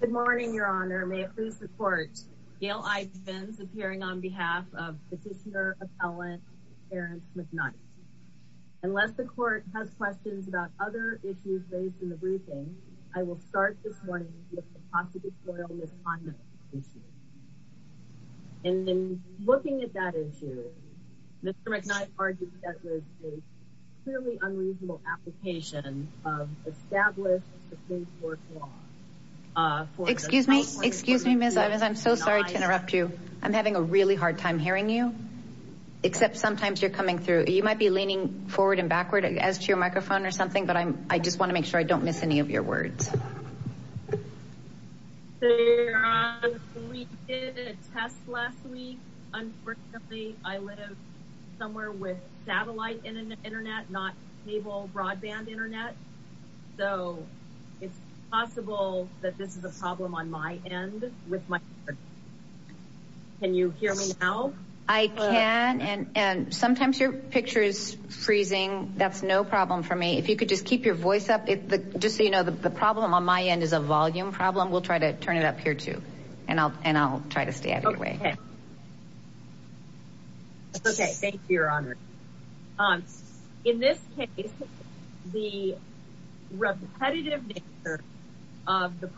Good morning, Your Honor. May it please the Court, Gail Ivens appearing on behalf of Petitioner Appellant Terrence McKnight. Unless the Court has questions about other issues raised in the briefing, I will start this morning with the positive soil misconduct issue. In looking at that issue, Mr. McKnight argued that was a clearly unreasonable application of established Supreme Court law. Excuse me, Ms. Ivens, I'm so sorry to interrupt you. I'm having a really hard time hearing you, except sometimes you're coming through. You might be leaning forward and backward as to your microphone or something, but I just want to make sure I don't miss any of your words. We did a test last week. Unfortunately, I live somewhere with satellite internet, not cable broadband internet. So it's possible that this is a problem on my end with my... Can you hear me now? I can, and sometimes your picture is freezing. That's no problem for me. If you could just keep your voice up. Just so you know, the problem on my end is a volume problem. We'll try to turn it up here too, and I'll try to stay out of your way. Okay. Thank you, Your Honor. In this case, the repetitive nature of the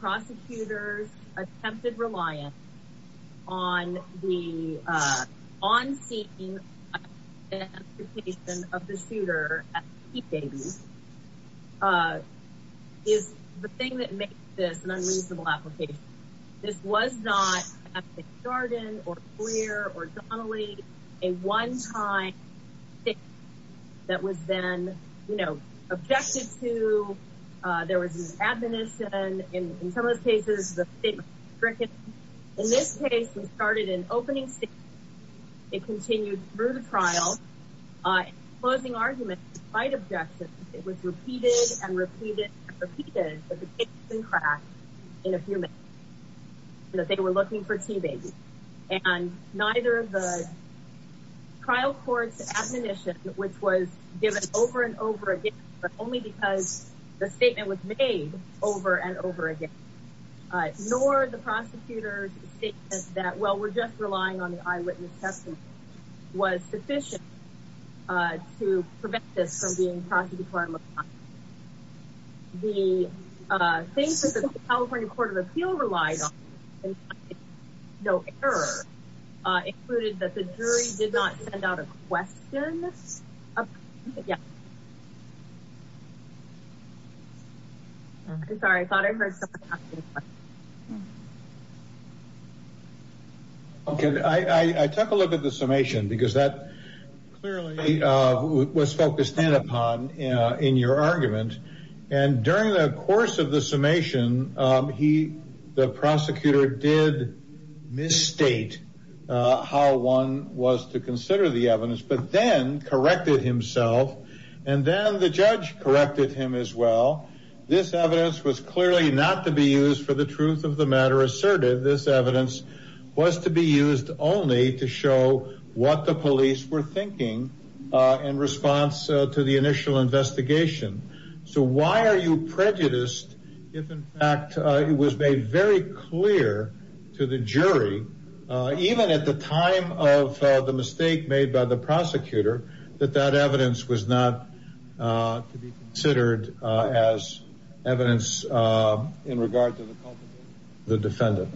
is the thing that makes this an unreasonable application. This was not at the Chardon or Clear or Donnelly, a one-time that was then, you know, objected to. There was an admonition. In some of those cases, the state was stricken. In this case, we started an opening statement. It continued through the trial. Closing argument, despite objections, it was repeated and repeated and repeated that the case had been cracked in a few minutes, that they were looking for TB. And neither of the trial court's admonition, which was given over and over again, but only because the statement was made over and over again, nor the prosecutor's statement that, well, we're just relying on the eyewitness testimony, was sufficient to prevent this from being prosecuted for a lifetime. The things that the California Court of Appeal relied on, no error, included that the jury did not send out a question. Sorry, I thought I took a look at the summation because that clearly was focused in upon in your argument. And during the course of the summation, he, the prosecutor did misstate how one was to consider the evidence, but then corrected himself. And then the judge corrected him as well. This evidence was clearly not to be used for the truth of the matter asserted. This evidence was to be used only to show what the police were thinking in response to the initial investigation. So why are you prejudiced if, in fact, it was made very clear to the jury, even at the time of the mistake made by the prosecutor, that that evidence was not to be considered as evidence in regard to the culpability of the defendant?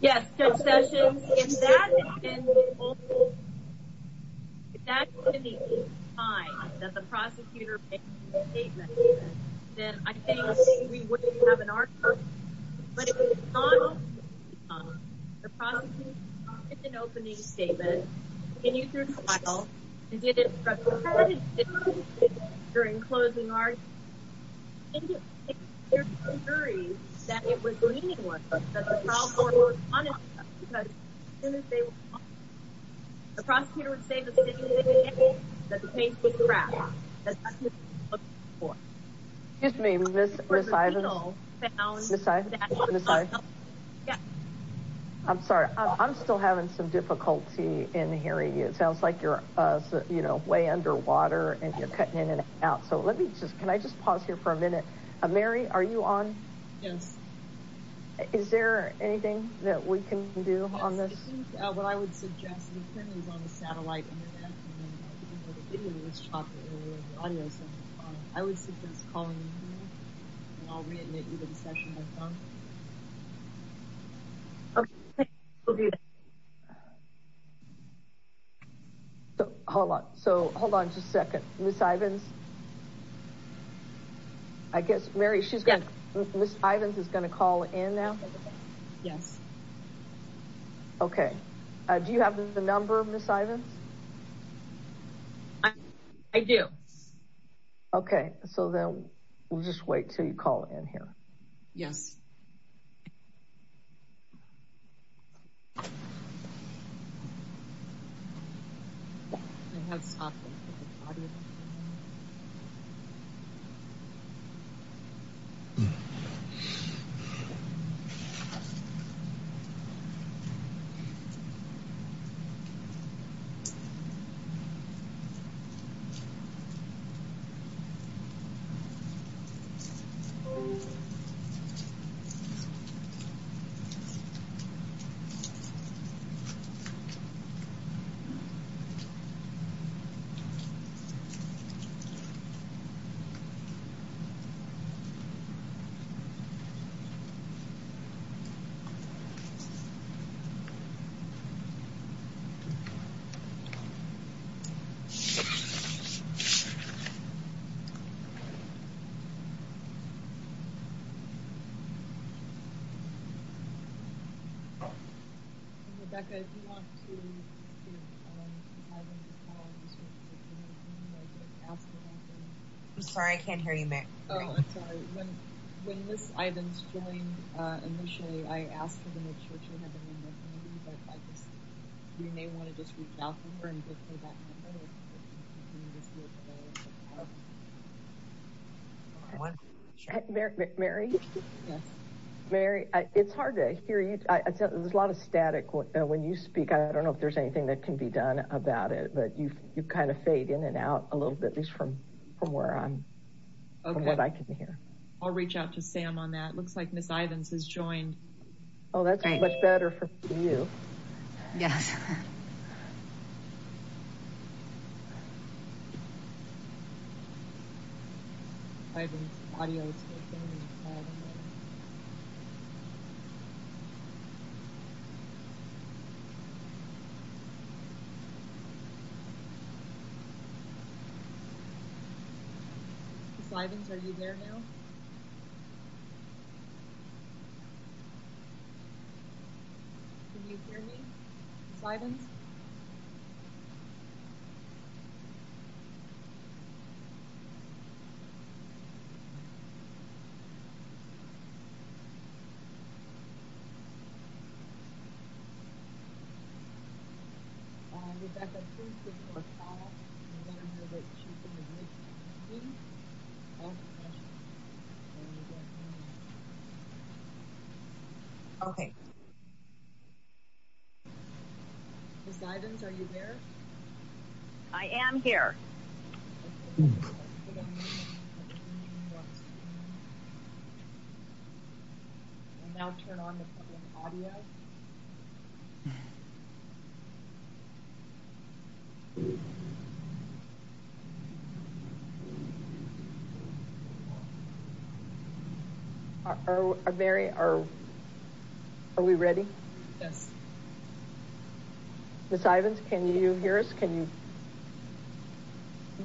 Yes, Judge Sessions, if that had been the only, if that had been the only time that the prosecutor made the statement, then I think we wouldn't have an argument. But if in response, the prosecutor did not make an opening statement, continued through trial, and did it for a period of time during closing arguments, then it would appear to the jury that it was the leading one, that the trial court was honest with them because as soon as they were caught, the prosecutor would say the same thing again, that the case was I'm sorry, I'm still having some difficulty in hearing you. It sounds like you're, you know, way underwater and you're cutting in and out. So let me just, can I just pause here for a minute? Mary, are you on? Yes. Is there anything that we can do on this? Yes, I think what I would suggest, and apparently he's on the satellite internet, and I didn't have a video of this chocolate earlier, or the audio, so I would suggest calling him and I'll re-admit you to the session by phone. Okay, thanks. We'll do that. Hold on, so hold on just a second. Ms. Ivins? I guess, Mary, she's going to, Ms. Ivins is going to call in now? Yes. Okay. Do you have the number, Ms. Ivins? I do. Okay, so then we'll just wait until you call in here. Yes. Okay. Rebecca, if you want to have them call in, just reach out to them. I'm sorry, I can't hear you, Mary. Oh, I'm sorry. When Ms. Ivins joined initially, I asked her to make sure she had the number for me, but we may want to just reach out to her and get her that number. Mary? Yes. Mary, it's hard to hear you. There's a lot of static when you speak. I don't know if there's anything that can be done about it, but you kind of fade in and out a little bit, at least from where I'm, from what I can hear. Okay. I'll reach out to Sam on that. It looks like Ms. Ivins has joined. Oh, that's much better for you. Yes. Ms. Ivins, are you there now? Can you hear me? Ms. Ivins? Ms. Ivins? Rebecca, please give me your phone number so that she can reach me. Okay. Ms. Ivins, are you there? I am here. Okay. Now turn on the audio. Are we ready? Yes. Ms. Ivins, can you hear us? Can you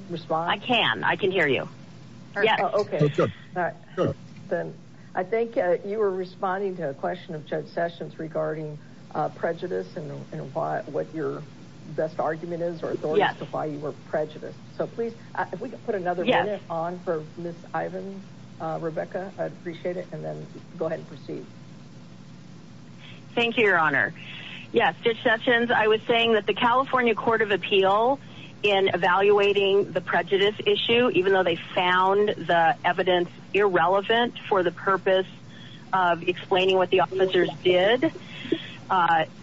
respond? I can. I can hear you. I think you were responding to a question of Judge Sessions regarding prejudice and what your best argument is or why you were prejudiced. So please, if we could put another minute on for Ms. Ivins, Rebecca, I'd appreciate it. And then go ahead and proceed. Thank you, Your Honor. Yes, Judge Sessions, I was saying that the California Court of Appeals found the evidence irrelevant for the purpose of explaining what the officers did.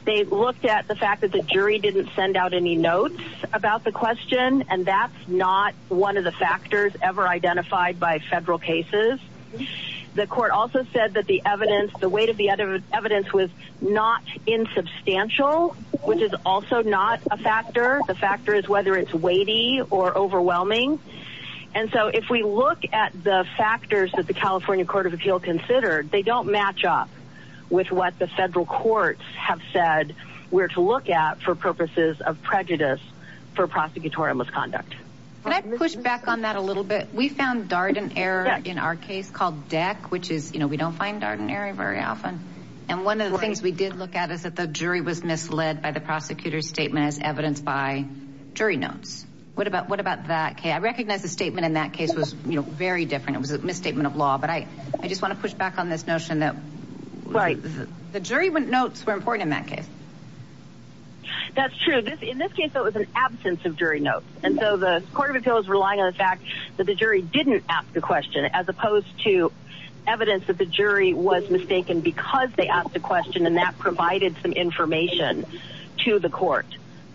They looked at the fact that the jury didn't send out any notes about the question, and that's not one of the factors ever identified by federal cases. The court also said that the evidence, the weight of the evidence was not insubstantial, which is also not a factor. The factor is whether it's weighty or overwhelming. And so if we look at the factors that the California Court of Appeals considered, they don't match up with what the federal courts have said we're to look at for purposes of prejudice for prosecutorial misconduct. Can I push back on that a little bit? We found Darden error in our case called deck, which is, you know, we don't find Darden error very often. And one of the things we did look at was that the jury was misled by the prosecutor's statement as evidenced by jury notes. What about what about that case? I recognize the statement in that case was very different. It was a misstatement of law. But I just want to push back on this notion that the jury notes were important in that case. That's true. In this case, it was an absence of jury notes. And so the Court of Appeals relying on the fact that the jury didn't ask the question as opposed to evidence that the jury was mistaken because they asked the question. And that provided some information to the court.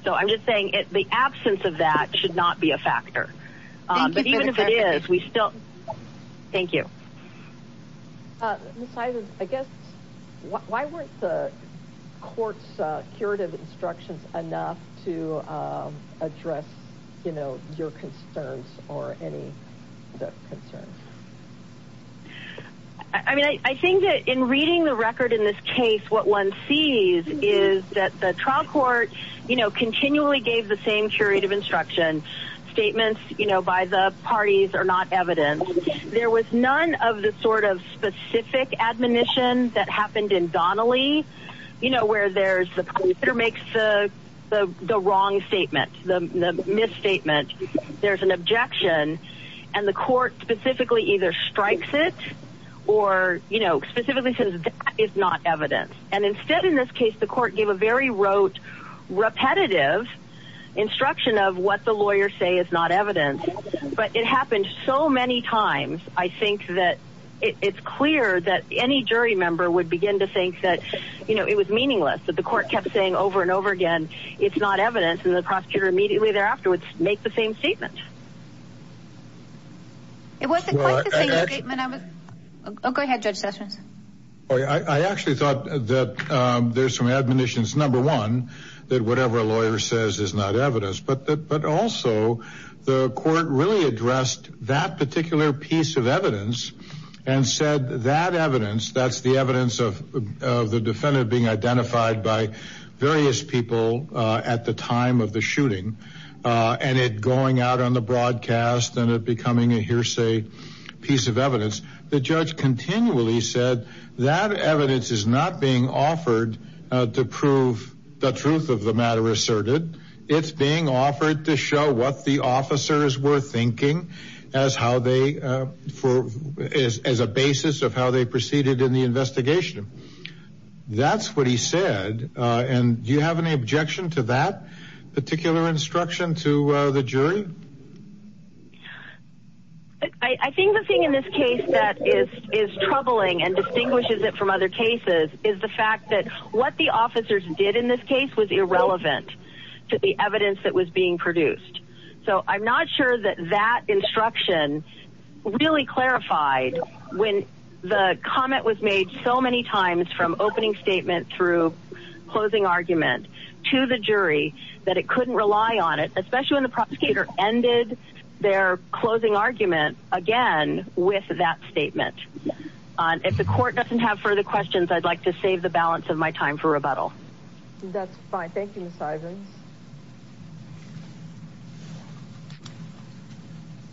So I'm just saying the absence of that should not be a factor. But even if it is, we still thank you. I guess why weren't the court's curative instructions enough to address, you know, your concerns or any of the concerns? I mean, I think that in reading the record in this case, what one sees is that the trial court, you know, continually gave the same curative instruction. Statements, you know, by the parties are not evidence. There was none of the sort of specific admonition that happened in Donnelly, you know, where there's the wrong statement, the misstatement. There's an objection. And the court specifically either strikes it or, you know, specifically says that is not evidence. And instead, in this case, the court gave a very rote, repetitive instruction of what the lawyers say is not evidence. But it happened so many times. I think that it's clear that any jury member would begin to think that, you know, it was meaningless that the court kept saying over and over again, it's not evidence. And the prosecutor immediately thereafter would make the same statement. It wasn't quite the same statement. Go ahead, Judge Sessions. I actually thought that there's some admonitions. Number one, that whatever a lawyer says is not evidence, but that but also the court really addressed that particular piece of evidence and said that evidence, that's the evidence of the defendant being identified by various people at the time of the shooting and it going out on the broadcast and it becoming a hearsay piece of evidence. The judge continually said that evidence is not being offered to prove the truth of the matter asserted. It's being offered to show what the officers were thinking as a basis of how they proceeded in the investigation. That's what he said. And do you have any objection to that particular instruction to the jury? I think the thing in this case that is troubling and distinguishes it from other cases is the fact that what the officers did in this case was irrelevant to the evidence that was being produced. So I'm not sure that that instruction really clarified when the comment was made so many times from opening statement through closing argument to the jury that it couldn't rely on it, especially when the prosecutor ended their closing argument again with that statement. If the court doesn't have further questions, I'd like to save the balance of my time for rebuttal. That's fine. Thank you, Ms. Ivins.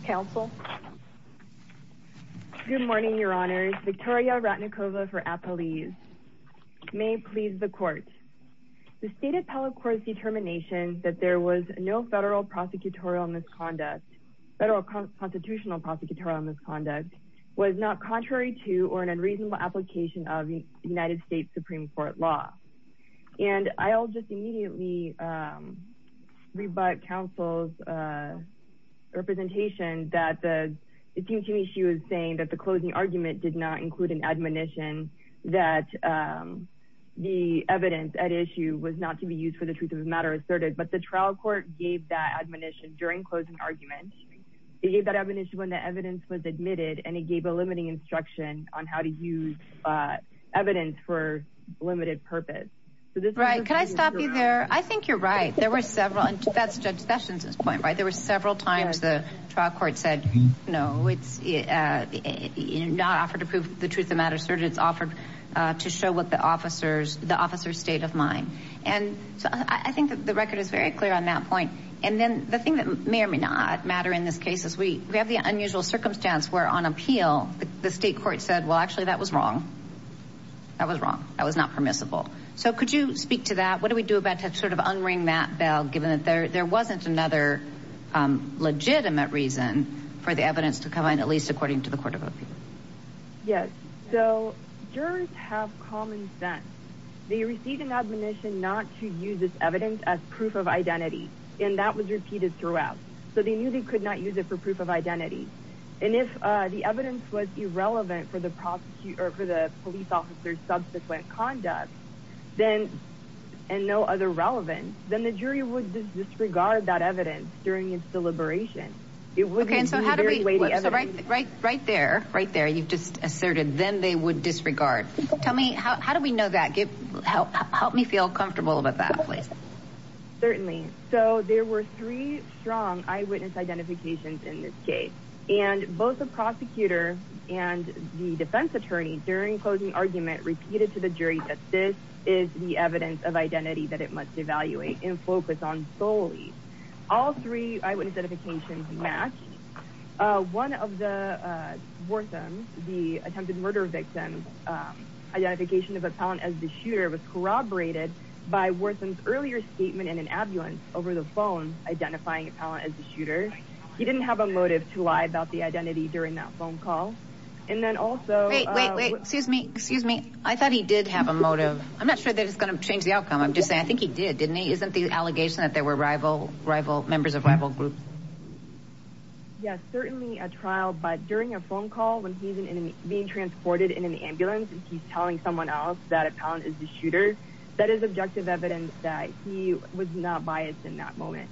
Counsel? Good morning, Your Honors. Victoria Ratnikova for Appalese. May it please the court. The State Appellate Court's determination that there was no federal prosecutorial misconduct, federal constitutional prosecutorial misconduct, was not contrary to or an unreasonable application of United States Supreme Court law. And I'll just immediately rebut counsel's representation that it seems to me she was saying that the closing argument did not include an admonition that the evidence at issue was not to be used for the truth of the matter asserted. But the trial court gave that admonition during closing argument. It gave that admonition when the evidence was admitted, and it gave a limiting instruction on how to use evidence for limited purpose. Right. Can I stop you there? I think you're right. There were several, and that's Judge Sessions' point, right? There were several times the trial court said, no, it's not offered to prove the truth of the matter asserted. It's offered to show what the officer's state of mind. And so I think that the record is very clear on that point. And then the thing that may or may not matter in this case is we have the unusual circumstance where on appeal, the state court said, well, actually, that was wrong. That was wrong. That was not permissible. So could you speak to that? What do we do about to sort of unring that bell, given that there wasn't another legitimate reason for the evidence to come in, at least according to the court of appeals? Yes. So jurors have common sense. They receive an admonition not to use this evidence as proof of identity. And that was repeated throughout. So they knew they could not use it for proof of identity. And if the evidence was irrelevant for the prosecution or for the police officer's subsequent conduct, then, and no other relevance, then the jury would disregard that evidence during its deliberation. It would be a very weighty evidence. So right there, right there, you've just asserted, then they would disregard. Tell me, how do we know that? Help me feel comfortable about that, please. Certainly. So there were three strong eyewitness identifications in this case, and both the prosecutor and the defense attorney, during closing argument, repeated to the jury that this is the evidence of identity that it must evaluate and focus on solely. All three eyewitness identifications matched. One of the Warthams, the attempted by Wartham's earlier statement in an ambulance over the phone, identifying Appellant as the shooter. He didn't have a motive to lie about the identity during that phone call. And then also... Wait, wait, wait, excuse me, excuse me. I thought he did have a motive. I'm not sure that it's going to change the outcome. I'm just saying, I think he did, didn't he? Isn't the allegation that there were rival, rival members of rival groups? Yes, certainly a trial, but during a phone call when he's being transported in an ambulance and he's telling someone else that Appellant is the shooter, that is objective evidence that he was not biased in that moment.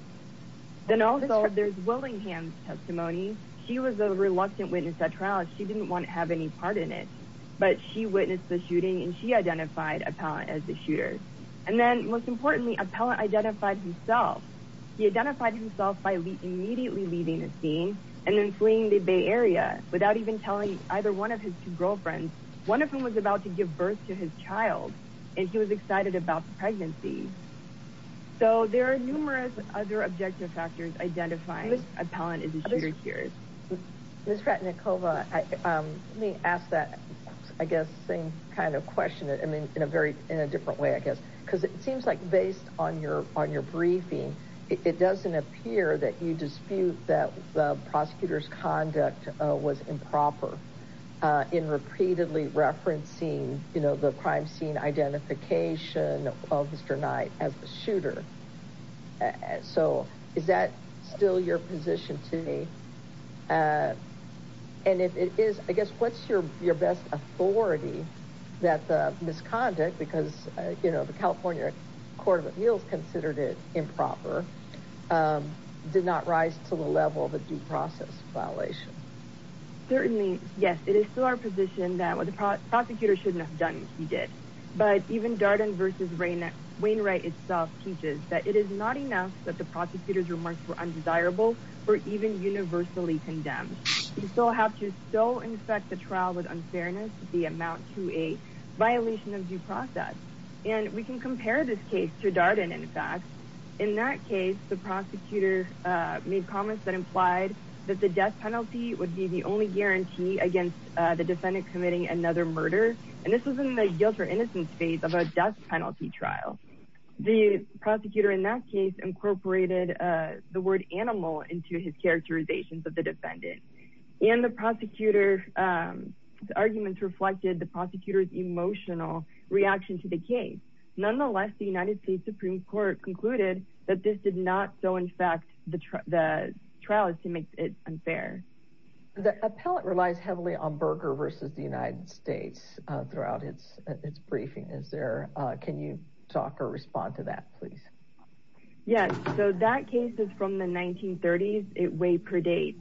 Then also there's Willingham's testimony. She was a reluctant witness at trial. She didn't want to have any part in it, but she witnessed the shooting and she identified Appellant as the shooter. And then most importantly, Appellant identified himself. He identified himself by immediately leaving the scene and then fleeing the Bay area. He was excited about the birth to his child and he was excited about the pregnancy. So there are numerous other objective factors identifying Appellant as the shooter here. Ms. Ratnikova, let me ask that, I guess, same kind of question. I mean, in a very, in a different way, I guess, because it seems like based on your, on your briefing, it doesn't appear that you dispute that the prosecutor's conduct was improper in repeatedly referencing the crime scene identification of Mr. Knight as the shooter. So is that still your position to me? And if it is, I guess, what's your best authority that the misconduct, because the California Court of Appeals considered it improper, did not rise to the level of a due process violation? Certainly, yes, it is still our position that what the prosecutor shouldn't have done if he did. But even Darden versus Wainwright itself teaches that it is not enough that the prosecutor's remarks were undesirable or even universally condemned. You still have to still inspect the trial with unfairness to the amount to a violation of due process. And we can compare this case to Darden, in fact. In that case, the prosecutor made comments that implied that the death penalty would be the only guarantee against the defendant committing another murder. And this was in the guilt or innocence phase of a death penalty trial. The prosecutor in that case incorporated the word animal into his characterizations of the defendant. And the prosecutor's arguments reflected the prosecutor's emotional reaction to the case. Nonetheless, the United States Supreme Court concluded that this did not so, in fact, the trial is to make it unfair. The appellate relies heavily on Berger versus the United States throughout its briefing, is there? Can you talk or respond to that, please? Yes, so that case is from the 1930s. It way predates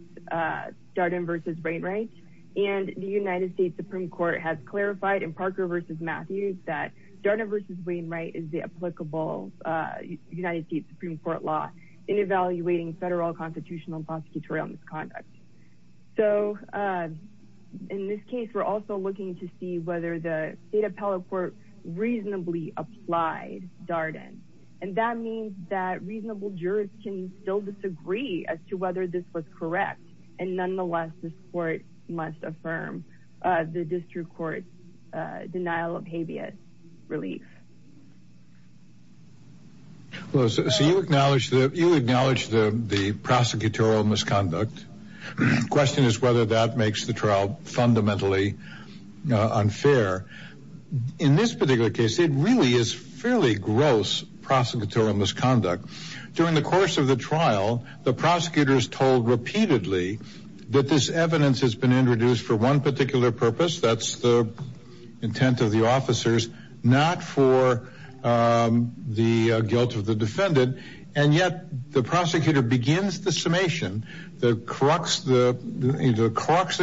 Darden versus Wainwright. And the United States Supreme Court has clarified in Parker versus Matthews that Darden versus Wainwright is the applicable United States Supreme Court law in evaluating federal constitutional prosecutorial misconduct. So in this case, we're also looking to see whether the state appellate court reasonably applied Darden. And that means that reasonable jurors can still disagree as to whether this was correct. And nonetheless, this court must affirm the So you acknowledge the prosecutorial misconduct. The question is whether that makes the trial fundamentally unfair. In this particular case, it really is fairly gross prosecutorial misconduct. During the course of the trial, the prosecutors told repeatedly that this evidence has been the guilt of the defendant. And yet the prosecutor begins the summation. The crux of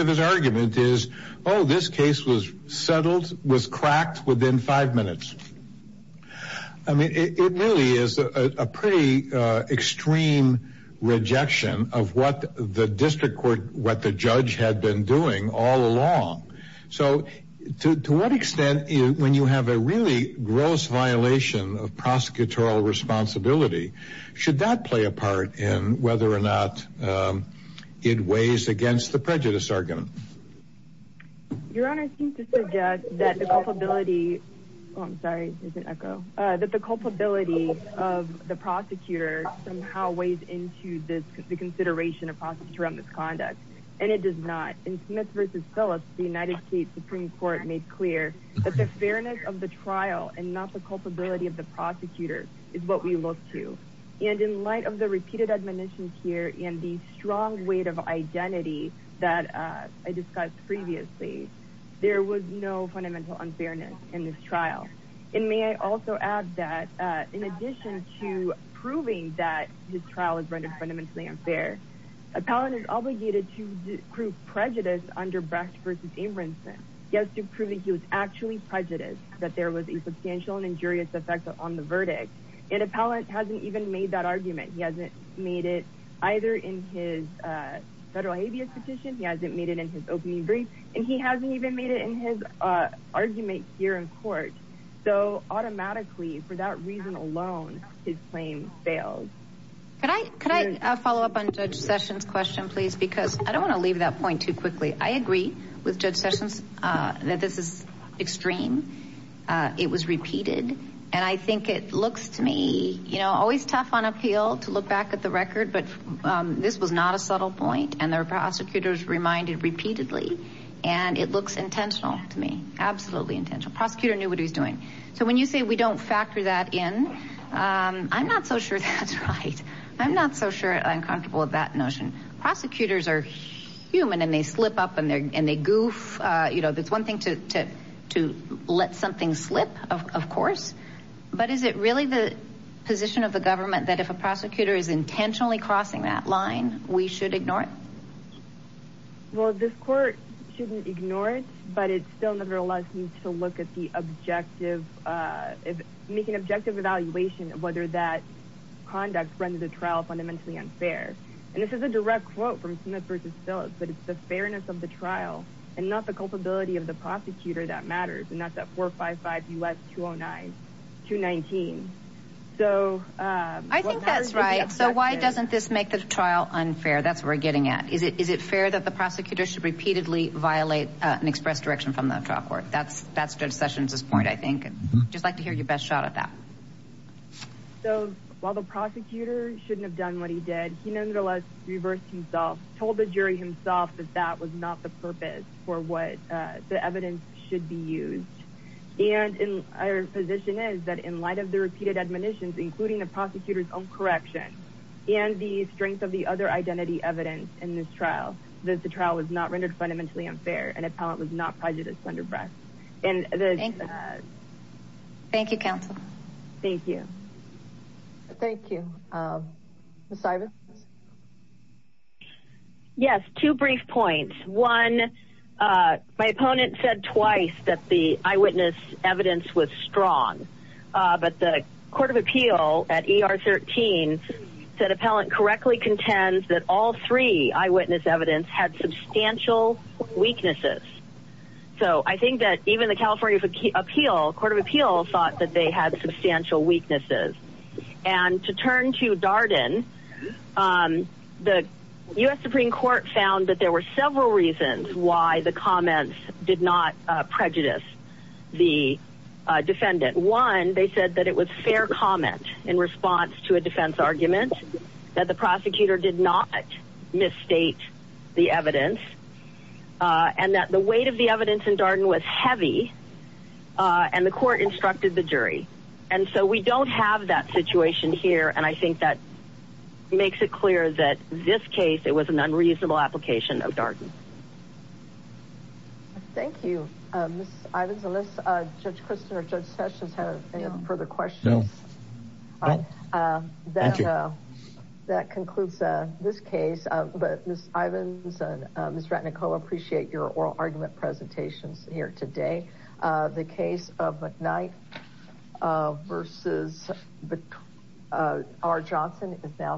his argument is, oh, this case was settled, was cracked within five minutes. I mean, it really is a pretty extreme rejection of what the district court, what the judge had been doing all along. So to what extent, when you have a really gross violation of prosecutorial responsibility, should that play a part in whether or not it weighs against the prejudice argument? Your Honor seems to suggest that the culpability of the prosecutor somehow weighs into this consideration of prosecutorial misconduct. And it does not. In Smith v. Phillips, the United States Supreme Court made clear that the fairness of the trial and not the culpability of the prosecutor is what we look to. And in light of the repeated admonitions here and the strong weight of identity that I discussed previously, there was no fundamental unfairness in this trial. And may I also add that in addition to proving that this trial is rendered fundamentally unfair, an appellant is obligated to prove prejudice under Brecht v. Abramson. He has to prove that he was actually prejudiced, that there was a substantial and injurious effect on the verdict. An appellant hasn't even made that argument. He hasn't made it either in his federal habeas petition, he hasn't made it in his opening brief, and he hasn't even made it in his argument here in court. So automatically, for that reason alone, his claim fails. Could I follow up on Judge Sessions' question, please? Because I don't want to leave that point too quickly. I agree with Judge Sessions that this is extreme. It was repeated. And I think it looks to me, you know, always tough on appeal to look back at the record, but this was not a subtle point. And there were prosecutors reminded repeatedly. And it looks intentional to me. Absolutely intentional. Prosecutor knew what he was doing. So when you say we don't factor that in, I'm not so sure that's right. I'm not so sure I'm comfortable with that notion. Prosecutors are human and they slip up and they goof. You know, that's one thing to let something slip, of course. But is it really the position of the government that if a prosecutor is intentionally crossing that line, we should ignore it? Well, this court shouldn't ignore it, but it still nevertheless needs to look at the objective, make an objective evaluation of whether that conduct rendered the trial fundamentally unfair. And this is a direct quote from Smith v. Phillips, but it's the fairness of the trial and not the culpability of the prosecutor that matters. And that's at 455 U.S. 209, 219. I think that's right. So why doesn't this make the trial unfair? That's where we're coming at. Is it fair that the prosecutor should repeatedly violate an express direction from the trial court? That's Judge Sessions' point, I think. I'd just like to hear your best shot at that. So while the prosecutor shouldn't have done what he did, he nevertheless reversed himself, told the jury himself that that was not the purpose for what the evidence should be used. And our position is that in light of the repeated admonitions, including the prosecutor's own direction and the strength of the other identity evidence in this trial, that the trial was not rendered fundamentally unfair and appellant was not prejudiced under breath. Thank you, counsel. Thank you. Thank you. Ms. Ivins? Yes, two brief points. One, my opponent said twice that the eyewitness evidence was strong, but the Court of Appeal at ER 13 said appellant correctly contends that all three eyewitness evidence had substantial weaknesses. So I think that even the California Court of Appeal thought that they had substantial weaknesses. And to turn to Darden, the U.S. Supreme Court found that there were several reasons why the comments did not prejudice the defendant. One, they said that it was fair comment in response to a defense argument, that the prosecutor did not misstate the evidence, and that the weight of the evidence in Darden was heavy, and the court instructed the jury. And so we don't have that situation here, and I think that makes it clear that in this case, it was an unreasonable application of Darden. Thank you. Ms. Ivins, unless Judge Christin or Judge Sessions have any further questions? No. Thank you. That concludes this case, but Ms. Ivins and Ms. Ratnikova, I appreciate your oral argument and your presentations here today. The case of McKnight v. R. Johnson is now submitted.